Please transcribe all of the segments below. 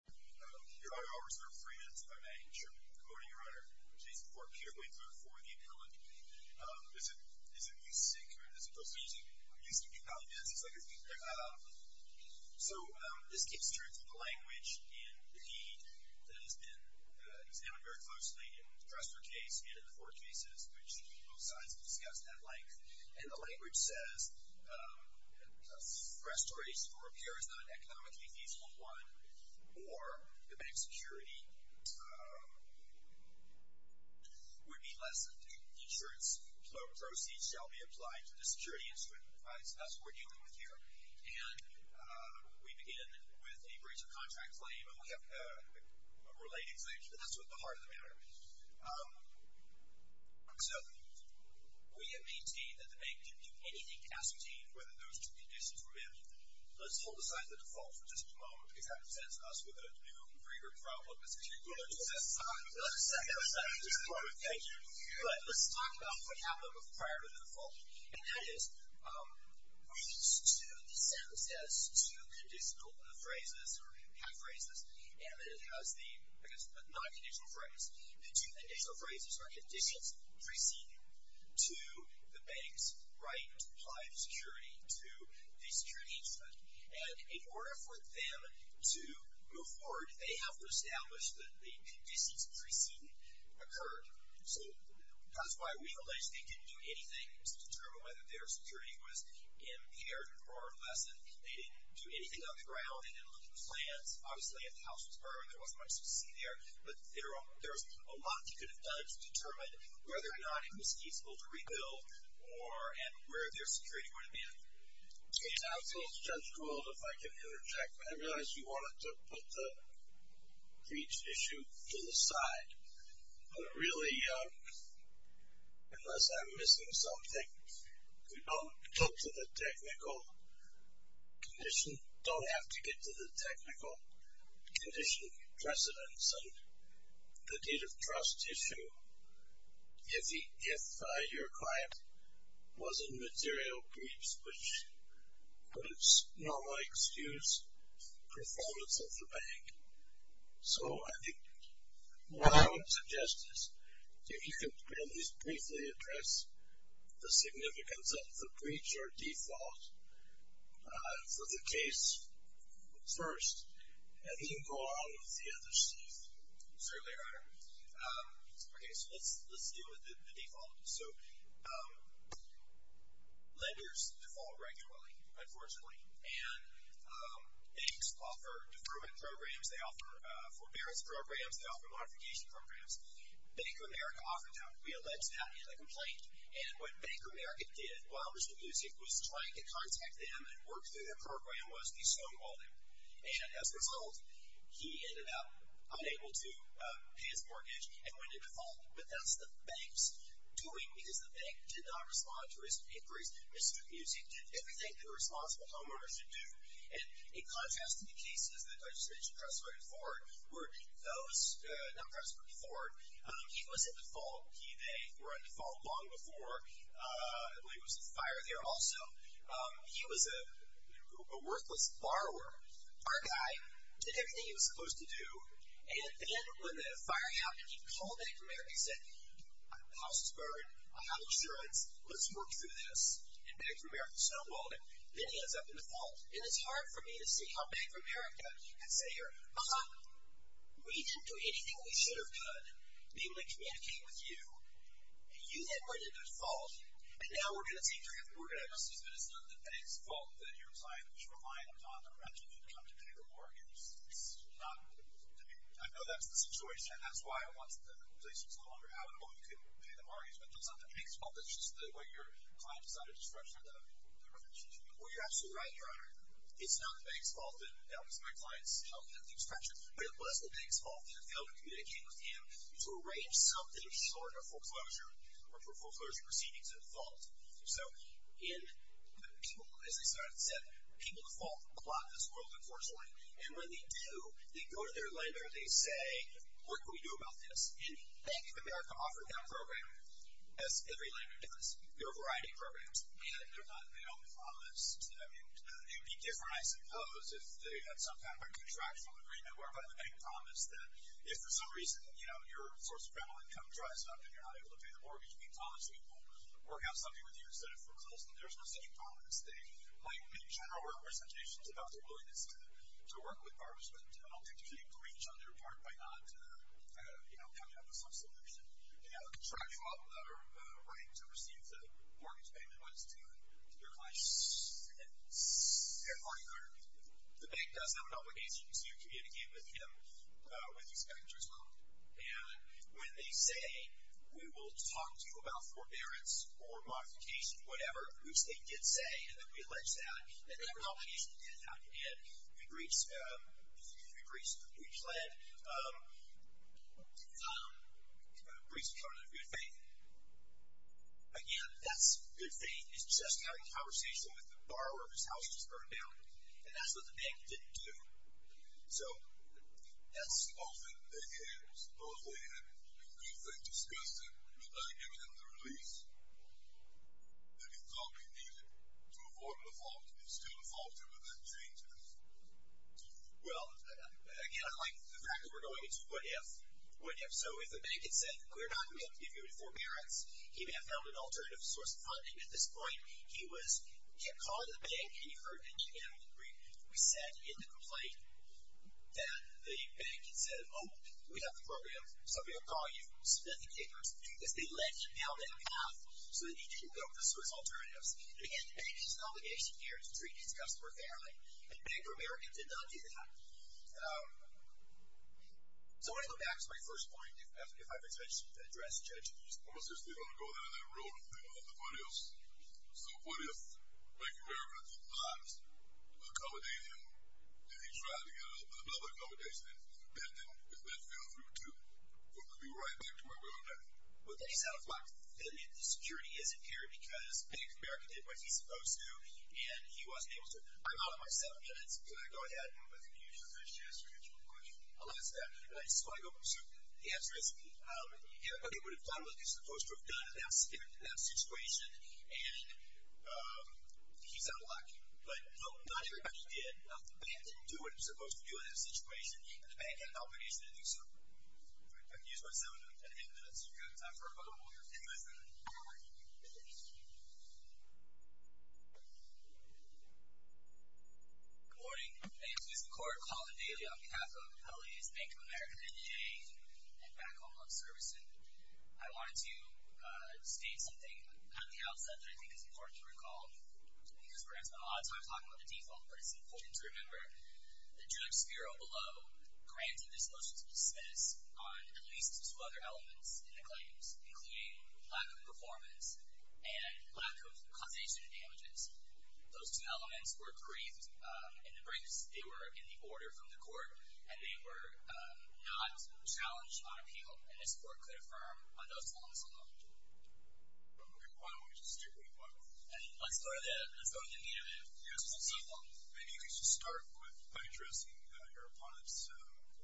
Your Honor, I'll reserve three minutes if I may, in tribute to the decoding Your Honor, which is for Peter Winkler, for the appellant. Is it music, or is it those two? Music. Music appellant, yes. So, this keeps true to the language in the deed that has been examined very closely in the Dresdner case and in the four cases, which both sides have discussed at length. And the language says, a restoration or repair is not an economically feasible one, or the bank's security would be lessened. Insurance proceeds shall be applied to the security instrument. That's what we're dealing with here. And we begin with a breach of contract claim, and we have a related claim, but that's what the heart of the matter is. So, we maintain that the bank didn't do anything to ascertain whether those two conditions were met. Let's hold aside the default for just a moment, because that presents us with a new, bigger problem. Let's talk about what happened prior to the default. And that is, we use the sentence as two conditional phrases, or half phrases, and then it has the, I guess, the non-conditional phrase. The two conditional phrases are conditions preceding to the bank's right to apply security to the security instrument. And in order for them to move forward, they have to establish that the conditions preceding occurred. So, that's why we alleged they didn't do anything to determine whether their security was impaired or lessened. They didn't do anything underground. They didn't look at the plans. Obviously, if the house was burned, there wasn't much to see there. But there was a lot you could have done to determine whether or not it was feasible to rebuild, and where their security would have been. It sounds a little stressful if I can interject, but I realize you wanted to put the breach issue to the side. But really, unless I'm missing something, we don't have to get to the technical condition precedence and the deed of trust issue if your client was in material breach, which would normally excuse performance of the bank. So, I think what I would suggest is if you could at least briefly address the significance of the breach as your default for the case first, and then go on with the other stuff. Certainly, Your Honor. Okay, so let's deal with the default. So, lenders default regularly, unfortunately. And banks offer deferment programs. They offer forbearance programs. They offer modification programs. Bank of America offered to be alleged to have made a complaint. And what Bank of America did, while Mr. Music was trying to contact them and work through their program, was to be stonewalled him. And as a result, he ended up unable to pay his mortgage and went into default. But that's the bank's doing, because the bank did not respond to his inquiries. Mr. Music did everything that a responsible homeowner should do. And in contrast to the cases that I just mentioned, Presto and Ford, they were in default long before there was a fire there also. He was a worthless borrower. Our guy did everything he was supposed to do. And then when the fire happened, he called Bank of America and said, House is burned. I have insurance. Let's work through this. And Bank of America stonewalled him. Then he ends up in default. And it's hard for me to see how Bank of America can say here, We didn't do anything we should have done. We only communicated with you. And you ended up in default. And now we're going to take your hand. We're going to assume that it's not the bank's fault that your client was reliant on the rent and didn't come to pay their mortgage. It's not. I know that's the situation. And that's why I want the complaints to no longer happen. Well, you couldn't pay the mortgage. But it's not the bank's fault. It's just the way your client decided to structure the relationship. Well, you're absolutely right, Your Honor. It's not the bank's fault. That was my client's health and safety structure. But it was the bank's fault. They failed to communicate with him to arrange something short of foreclosure or foreclosure proceedings in default. So, in the people, as I said, people default a lot in this world, unfortunately. And when they do, they go to their lender and they say, What can we do about this? And Bank of America offered that program, as every lender does. There are a variety of programs. And they're not balanced. I mean, it would be different, I suppose, if they had some kind of a contractual agreement whereby the bank promised that if for some reason, you know, your source of credital income dries up and you're not able to pay the mortgage, we promise we will work out something with you instead of foreclosing. There's no such promise. They might make general representations about their willingness to work with barbers, but ultimately breach on their part by not, you know, coming up with some solution. You know, the contractual right to receive the mortgage payment was to their client's party owner. The bank does have an obligation to communicate with him, with the inspector as well. And when they say, we will talk to you about forbearance or modification, whatever, which they did say, and then we allege that, and that renovation did happen, and we breached, we pled, breached the covenant of good faith. Again, that's good faith is just having a conversation with the borrower whose house just burned down. And that's what the bank didn't do. So that's... Often they had supposedly had a good thing discussed and you're not giving them the release that you thought they needed to avoid default. They still defaulted, but that changes. So if the bank had said, we're not going to give you a forbearance, he may have found an alternative source of funding at this point. He kept calling the bank and he heard, and again, we said in the complaint that the bank had said, oh, we have the program. So we're going to call you, submit the papers, because they led him down that path so that he didn't go for Swiss alternatives. And again, the bank has an obligation here to treat its customer fairly, and Bank of America did not do that. So I want to go back to my first point. If I've addressed judge Houston. Well, since they don't go down that road, they don't have nobody else. So what if Bank of America did not accommodate him, and he tried to get another accommodation, and that didn't go through, too? It would be right back to where we are now. Well, then he's out of luck. The security isn't here because Bank of America did what he's supposed to, and he wasn't able to. I'm out of my seven minutes, so I'm going to go ahead and use your first chance to answer a question. I'll ask that. So the answer is, if he would have done what he's supposed to have done in that situation, and he's out of luck. But, no, not everybody did. The bank didn't do what it was supposed to do in that situation, and the bank had an obligation to do so. I've used my seven and a half minutes. We've got time for one more question. Good morning. My name is Jason McCord, called in daily on behalf of L.A.'s Bank of America, NDA, and Back Home Love Service. I wanted to state something at the outset that I think is important to recall, because we're going to spend a lot of time talking about the default, but it's important to remember the drug sphero below granted this motion to make claims, including lack of performance, and lack of causation of damages. Those two elements were briefed in the briefs. They were in the order from the court, and they were not challenged on appeal, and this court could affirm on those claims alone. Okay, why don't we just stick with one? Let's go to the meat of it. Yes, let's do one. Maybe you could just start with, by addressing your opponent's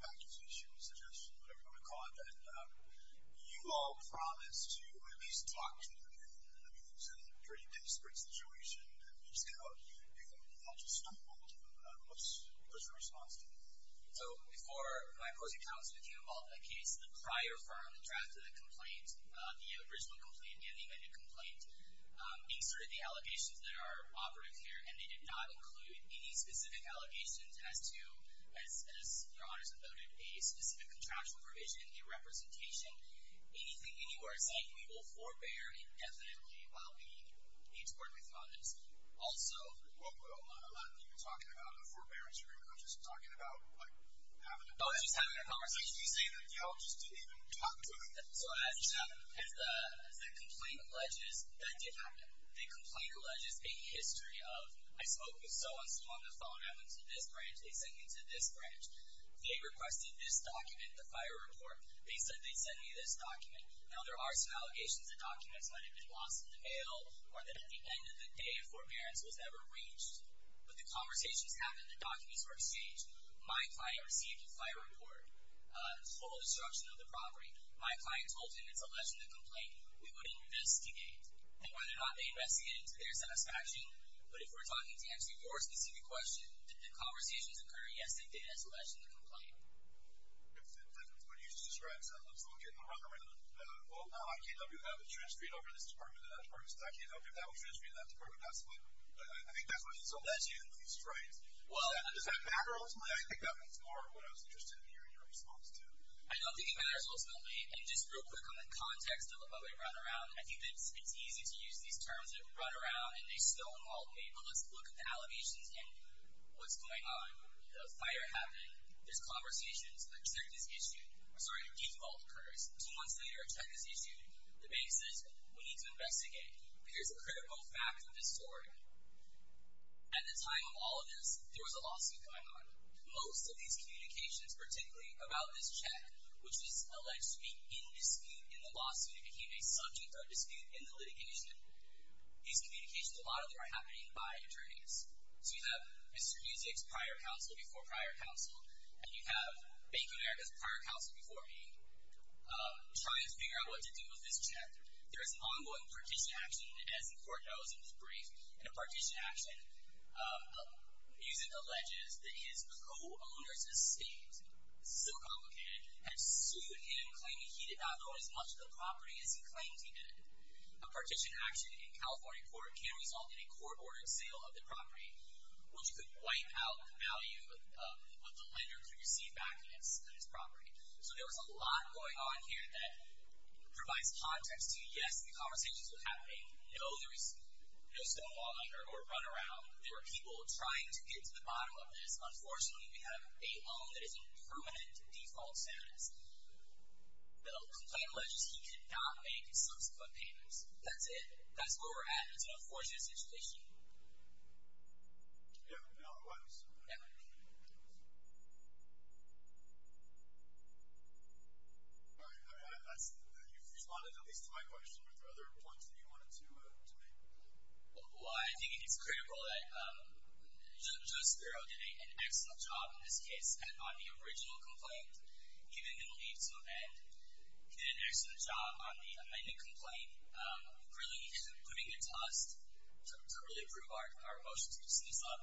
package issue, suggestion, whatever you want to call it, and you all promised to at least talk to him. I mean, this is a pretty disparate situation, and I'm just going to ask you if you want to stumble. What's your response to that? So before my opposing counsel became involved in that case, the prior firm drafted a complaint, the original complaint, and the amended complaint, being sort of the allegations that are operative here, and they did not include any specific allegations as to, as your honors have noted, a specific contractual provision, a representation, anything anywhere saying we will forbear indefinitely while we need to work with you on this. Also. Well, a lot of you are talking about a forbearance agreement. I'm just talking about, like, having a conversation. Oh, just having a conversation. You say that you all just didn't even talk to him. So as the complaint alleges, that did happen. The complaint alleges a history of, I spoke with so-and-so on this phone, I went to this branch, they sent me to this branch. They requested this document, the fire report. They said they'd send me this document. Now, there are some allegations that documents might have been lost in the mail or that at the end of the day a forbearance was ever reached. But the conversations happened, the documents were exchanged. My client received a fire report, total destruction of the property. My client told him it's a legitimate complaint. We would investigate. And whether or not they investigated to their satisfaction, but if we're talking to answer your specific question, did the conversations occur? Yes, they did, as alleged in the complaint. That's what you just described. So I'm just looking around, well, no, I can't help you if that was transferred over to this department and that department, because I can't help you if that was transferred to that department. I think that's what is alleged in these traits. Does that matter, ultimately? I think that was more what I was interested in hearing your response to. I don't think it matters, ultimately. And just real quick on the context of what we run around, I think that it's easy to use these terms that run around and they still involve people. Let's look at the allegations and what's going on. The fire happened. There's conversations. A check is issued. Sorry, a default occurs. Two months later, a check is issued. The bank says, we need to investigate. Here's a critical fact of this story. At the time of all of this, there was a lawsuit going on. Most of these communications, particularly about this check, which is alleged to be in dispute in the lawsuit became a subject of dispute in the litigation. These communications, a lot of them are happening by attorneys. So you have Mr. Muzik's prior counsel before prior counsel, and you have Bank of America's prior counsel before me, trying to figure out what to do with this check. There is an ongoing partition action, as the court knows, in this brief. In a partition action, Muzik alleges that his co-owner's estate, so complicated, had sued him, A partition action in California court can result in a court-ordered sale of the property, which could wipe out the value of the lender to receive back on his property. So there was a lot going on here that provides context to, yes, the conversations were happening. No, there was no stonewalling or runaround. There were people trying to get to the bottom of this. Unfortunately, we have a loan that is in permanent default status. The complaint alleges he could not make subsequent payments. That's it. That's where we're at. It's an unfortunate situation. Yeah, no, it was. Yeah. All right. You've responded at least to my question. Are there other points that you wanted to make? Well, I think it's critical that Judge Spiro did an excellent job in this case on the original complaint. He didn't leave to amend. He did an excellent job on the amended complaint, really putting a test to really prove our emotions, to sum this up.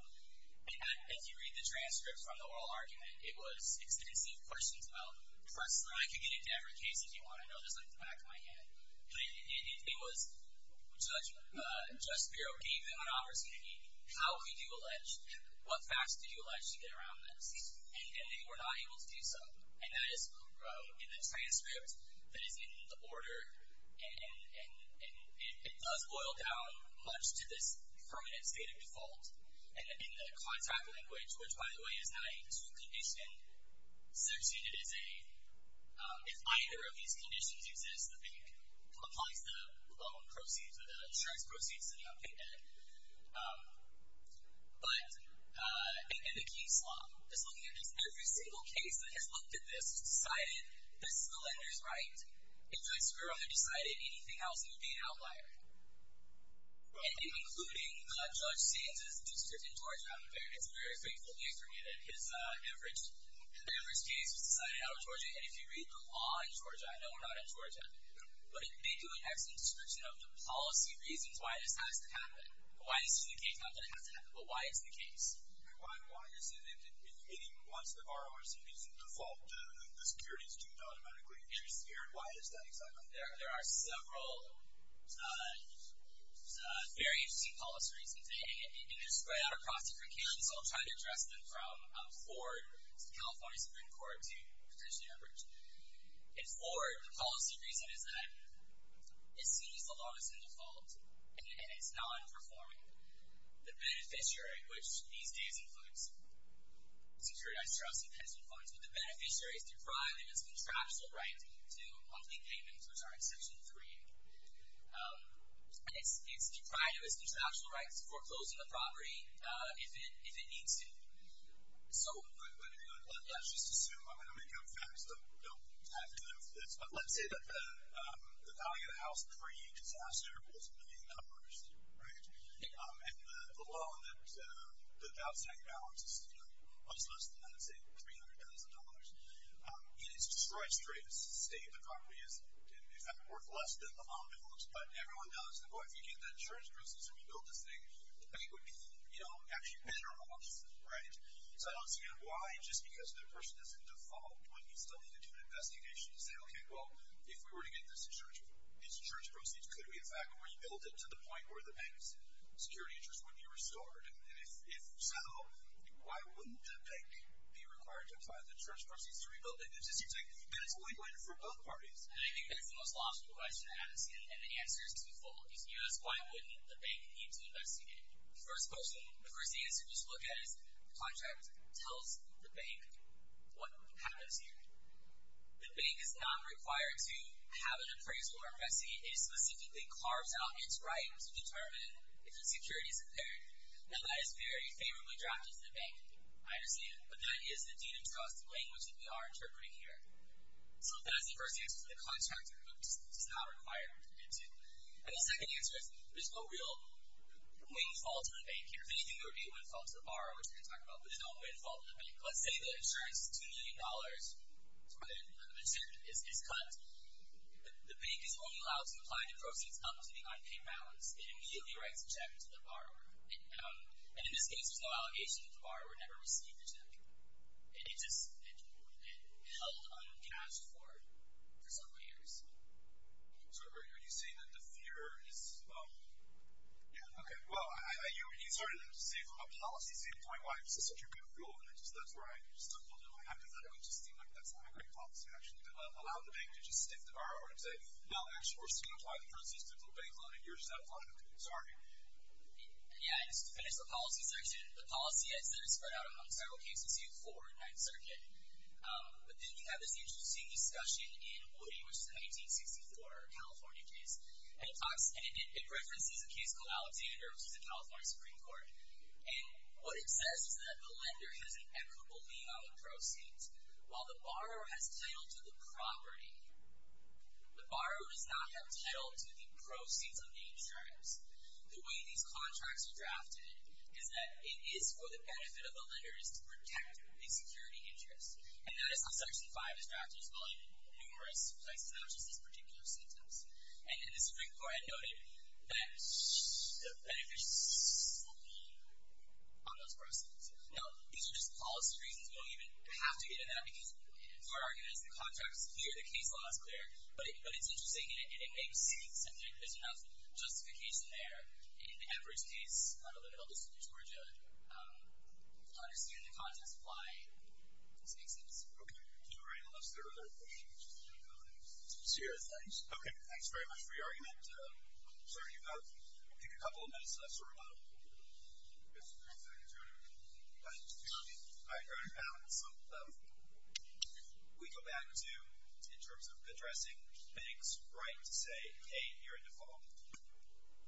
And as you read the transcript from the oral argument, it was extensive questions about, personally, I could get into every case if you want to know, just like the back of my hand. But it was Judge Spiro gave him an opportunity. How could you allege? What facts did you allege to get around this? And they were not able to do so. And that is in the transcript that is in the order, and it does boil down much to this permanent state of default. And in the contract language, which, by the way, is not a true condition, sectioned it as a, if either of these conditions exist, the bank applies the loan proceeds or the insurance proceeds to the unpaid debt. But in the case law, just looking at this, every single case that has looked at this has decided this is the lender's right. And Judge Spiro had decided anything else would be an outlier. And including Judge Sands' district in Georgia, I'm afraid, it's very faithfully affirmed that his average case was decided out of Georgia. And if you read the law in Georgia, I know we're not in Georgia, but it did do an excellent description of the policy reasons why this has to happen, why this is the case, not that it has to happen, but why it's the case. And why is it? I mean, once the RORC meets the default, the securities do not automatically interfere. Why is that exactly? There are several very interesting policy reasons. And they spread out across different counties, so I'll try to address them from Ford to California Supreme Court to potentially Everett. In Ford, the policy reason is that it sees the loan as in default, and it's non-performing. The beneficiary, which these days includes securitized trusts and pension funds, but the beneficiary is deprived of its contractual right to complete payments, which are exceptional to 3A. And it's deprived of its contractual right to foreclose on the property if it needs to. So let's just assume, I'm going to make up facts that don't have to do with this, but let's say that the value of the house in 3A disaster was a million dollars, right? And the loan that the house had in balance was less than, let's say, $300,000. And it's destroyed straight. It's sustained. The property is, in effect, worth less than the amount it holds. But everyone knows that, boy, if you get the insurance business and we build this thing, the pay would be, you know, actually better off, right? So I don't see why just because the person is in default wouldn't he still need to do an investigation to say, okay, well, if we were to get this insurance, these insurance proceeds could be in fact rebuilt to the point where the bank's security interest would be restored. And if so, why wouldn't the bank be required to apply the insurance proceeds to rebuild it? Because it seems like that's a win-win for both parties. I think that's the most logical question to ask, and the answer is twofold. If you ask why wouldn't the bank need to investigate, the first question, the first answer to look at is the contract tells the bank what happens here. The bank is not required to have an appraisal or a fessee. It specifically carves out its rights to determine if the security is impaired. Now, that is very favorably drafted to the bank, I understand, but that is the dean of trust language that we are interpreting here. So that is the first answer to the contract. It's just not required. And the second answer is there's no real win-fall to the bank here. If anything, there would be a win-fall to the borrower, which we can talk about, but there's no win-fall to the bank. Let's say the insurance is $2 million. It's where the incentive is cut. The bank is only allowed to apply the proceeds up to the unpaid balance. It immediately writes a check to the borrower. And in this case, there's no allegation that the borrower never received the check. It just held uncashed for several years. So are you saying that the fear is true? Yeah. Okay. Well, you started to say from a policy standpoint, why is this such a good rule? And that's where I stumbled a little bit. I thought it would just seem like that's not a great policy, actually, to allow the bank to just stiff the borrower and say, No, we're just going to apply the proceeds to the bank loan, and you're satisfied with it. Sorry. Yeah, I just finished the policy section. The policy, as it is spread out among several cases here before in Ninth Circuit. But then you have this interesting discussion in Woody, which is a 1964 California case. And it references a case called Alexander, which is a California Supreme Court. And what it says is that the lender has an equitable lien on the proceeds. While the borrower has title to the property, the borrower does not have title to the proceeds of the insurance. The way these contracts are drafted is that it is for the benefit of the lender is to protect a security interest. And that is how Section 5 is drafted as well in numerous places, not just this particular sentence. And the Supreme Court had noted that the benefits will be on those proceeds. Now, these are just policy reasons. We don't even have to get into that, because as far as I'm concerned, the contract is clear, the case law is clear. But it's interesting, and it makes sense. I think there's enough justification there. In the average case, not a little bit. I'll just use Georgia. To understand the context of why this makes sense. Okay. All right. Unless there are other questions. No comments. Sierra, thanks. Okay. Thanks very much for your argument. Sorry, you've got a couple of minutes left. So remodel. Yes. All right. Go ahead. So we go back to, in terms of addressing banks' right to say, hey, you're in default.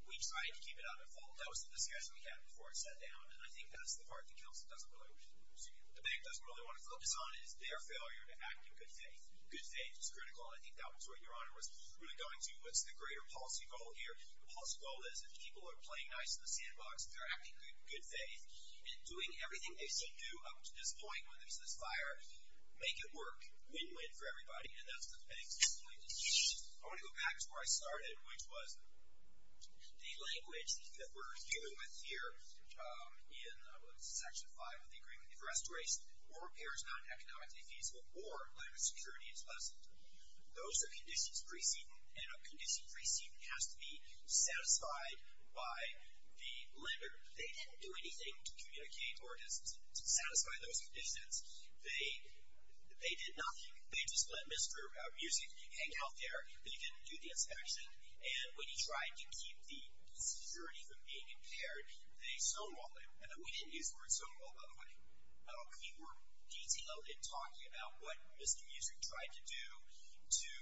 We tried to keep it on default. That was the discussion we had before it sat down. And I think that's the part that the bank doesn't really want to focus on, is their failure to act in good faith. Good faith is critical, and I think that was what Your Honor was really going to. What's the greater policy goal here? The policy goal is, if people are playing nice in the sandbox, they're acting in good faith, and doing everything they should do up to this point when there's this fire, make it work. Win-win for everybody. And that's what the bank's viewpoint is. I want to go back to where I started, which was the language that we're dealing with here in Section 5 of the agreement. If restoration or repair is not economically feasible, or landless security is lessened, those are conditions of precedence, and a condition of precedence has to be satisfied by the lender. They didn't do anything to communicate or to satisfy those conditions. They did nothing. They just let Mr. Music hang out there, and he didn't do the inspection. And when he tried to keep the security from being impaired, they snowballed it. And we didn't use the word snowball, by the way. We were detailed in talking about what Mr. Music tried to do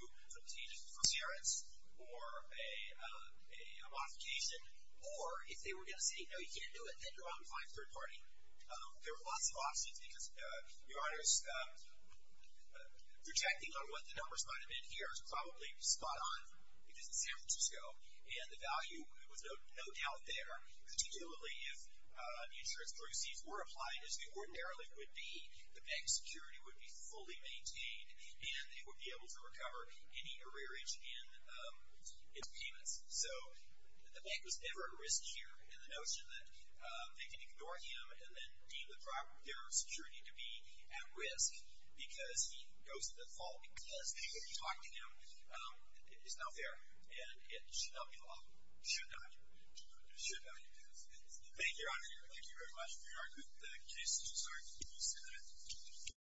to change forbearance or a modification, or if they were going to say, no, you can't do it, then you're out of line for third party. There were lots of options, because, Your Honors, projecting on what the numbers might have been here is probably spot on, because it's San Francisco, and the value was no doubt there, particularly if insurance proceeds were applied as they ordinarily would be, the bank's security would be fully maintained, and they would be able to recover any arrearage in payments. So the bank was never at risk here, and the notion that they can ignore him and then deem their security to be at risk because he goes to the fault because people talk to him is not fair, and it should not be allowed. It should not. It should not. Thank you, Your Honor. Thank you very much, Your Honor. Jason, I'm sorry. Can you stand there?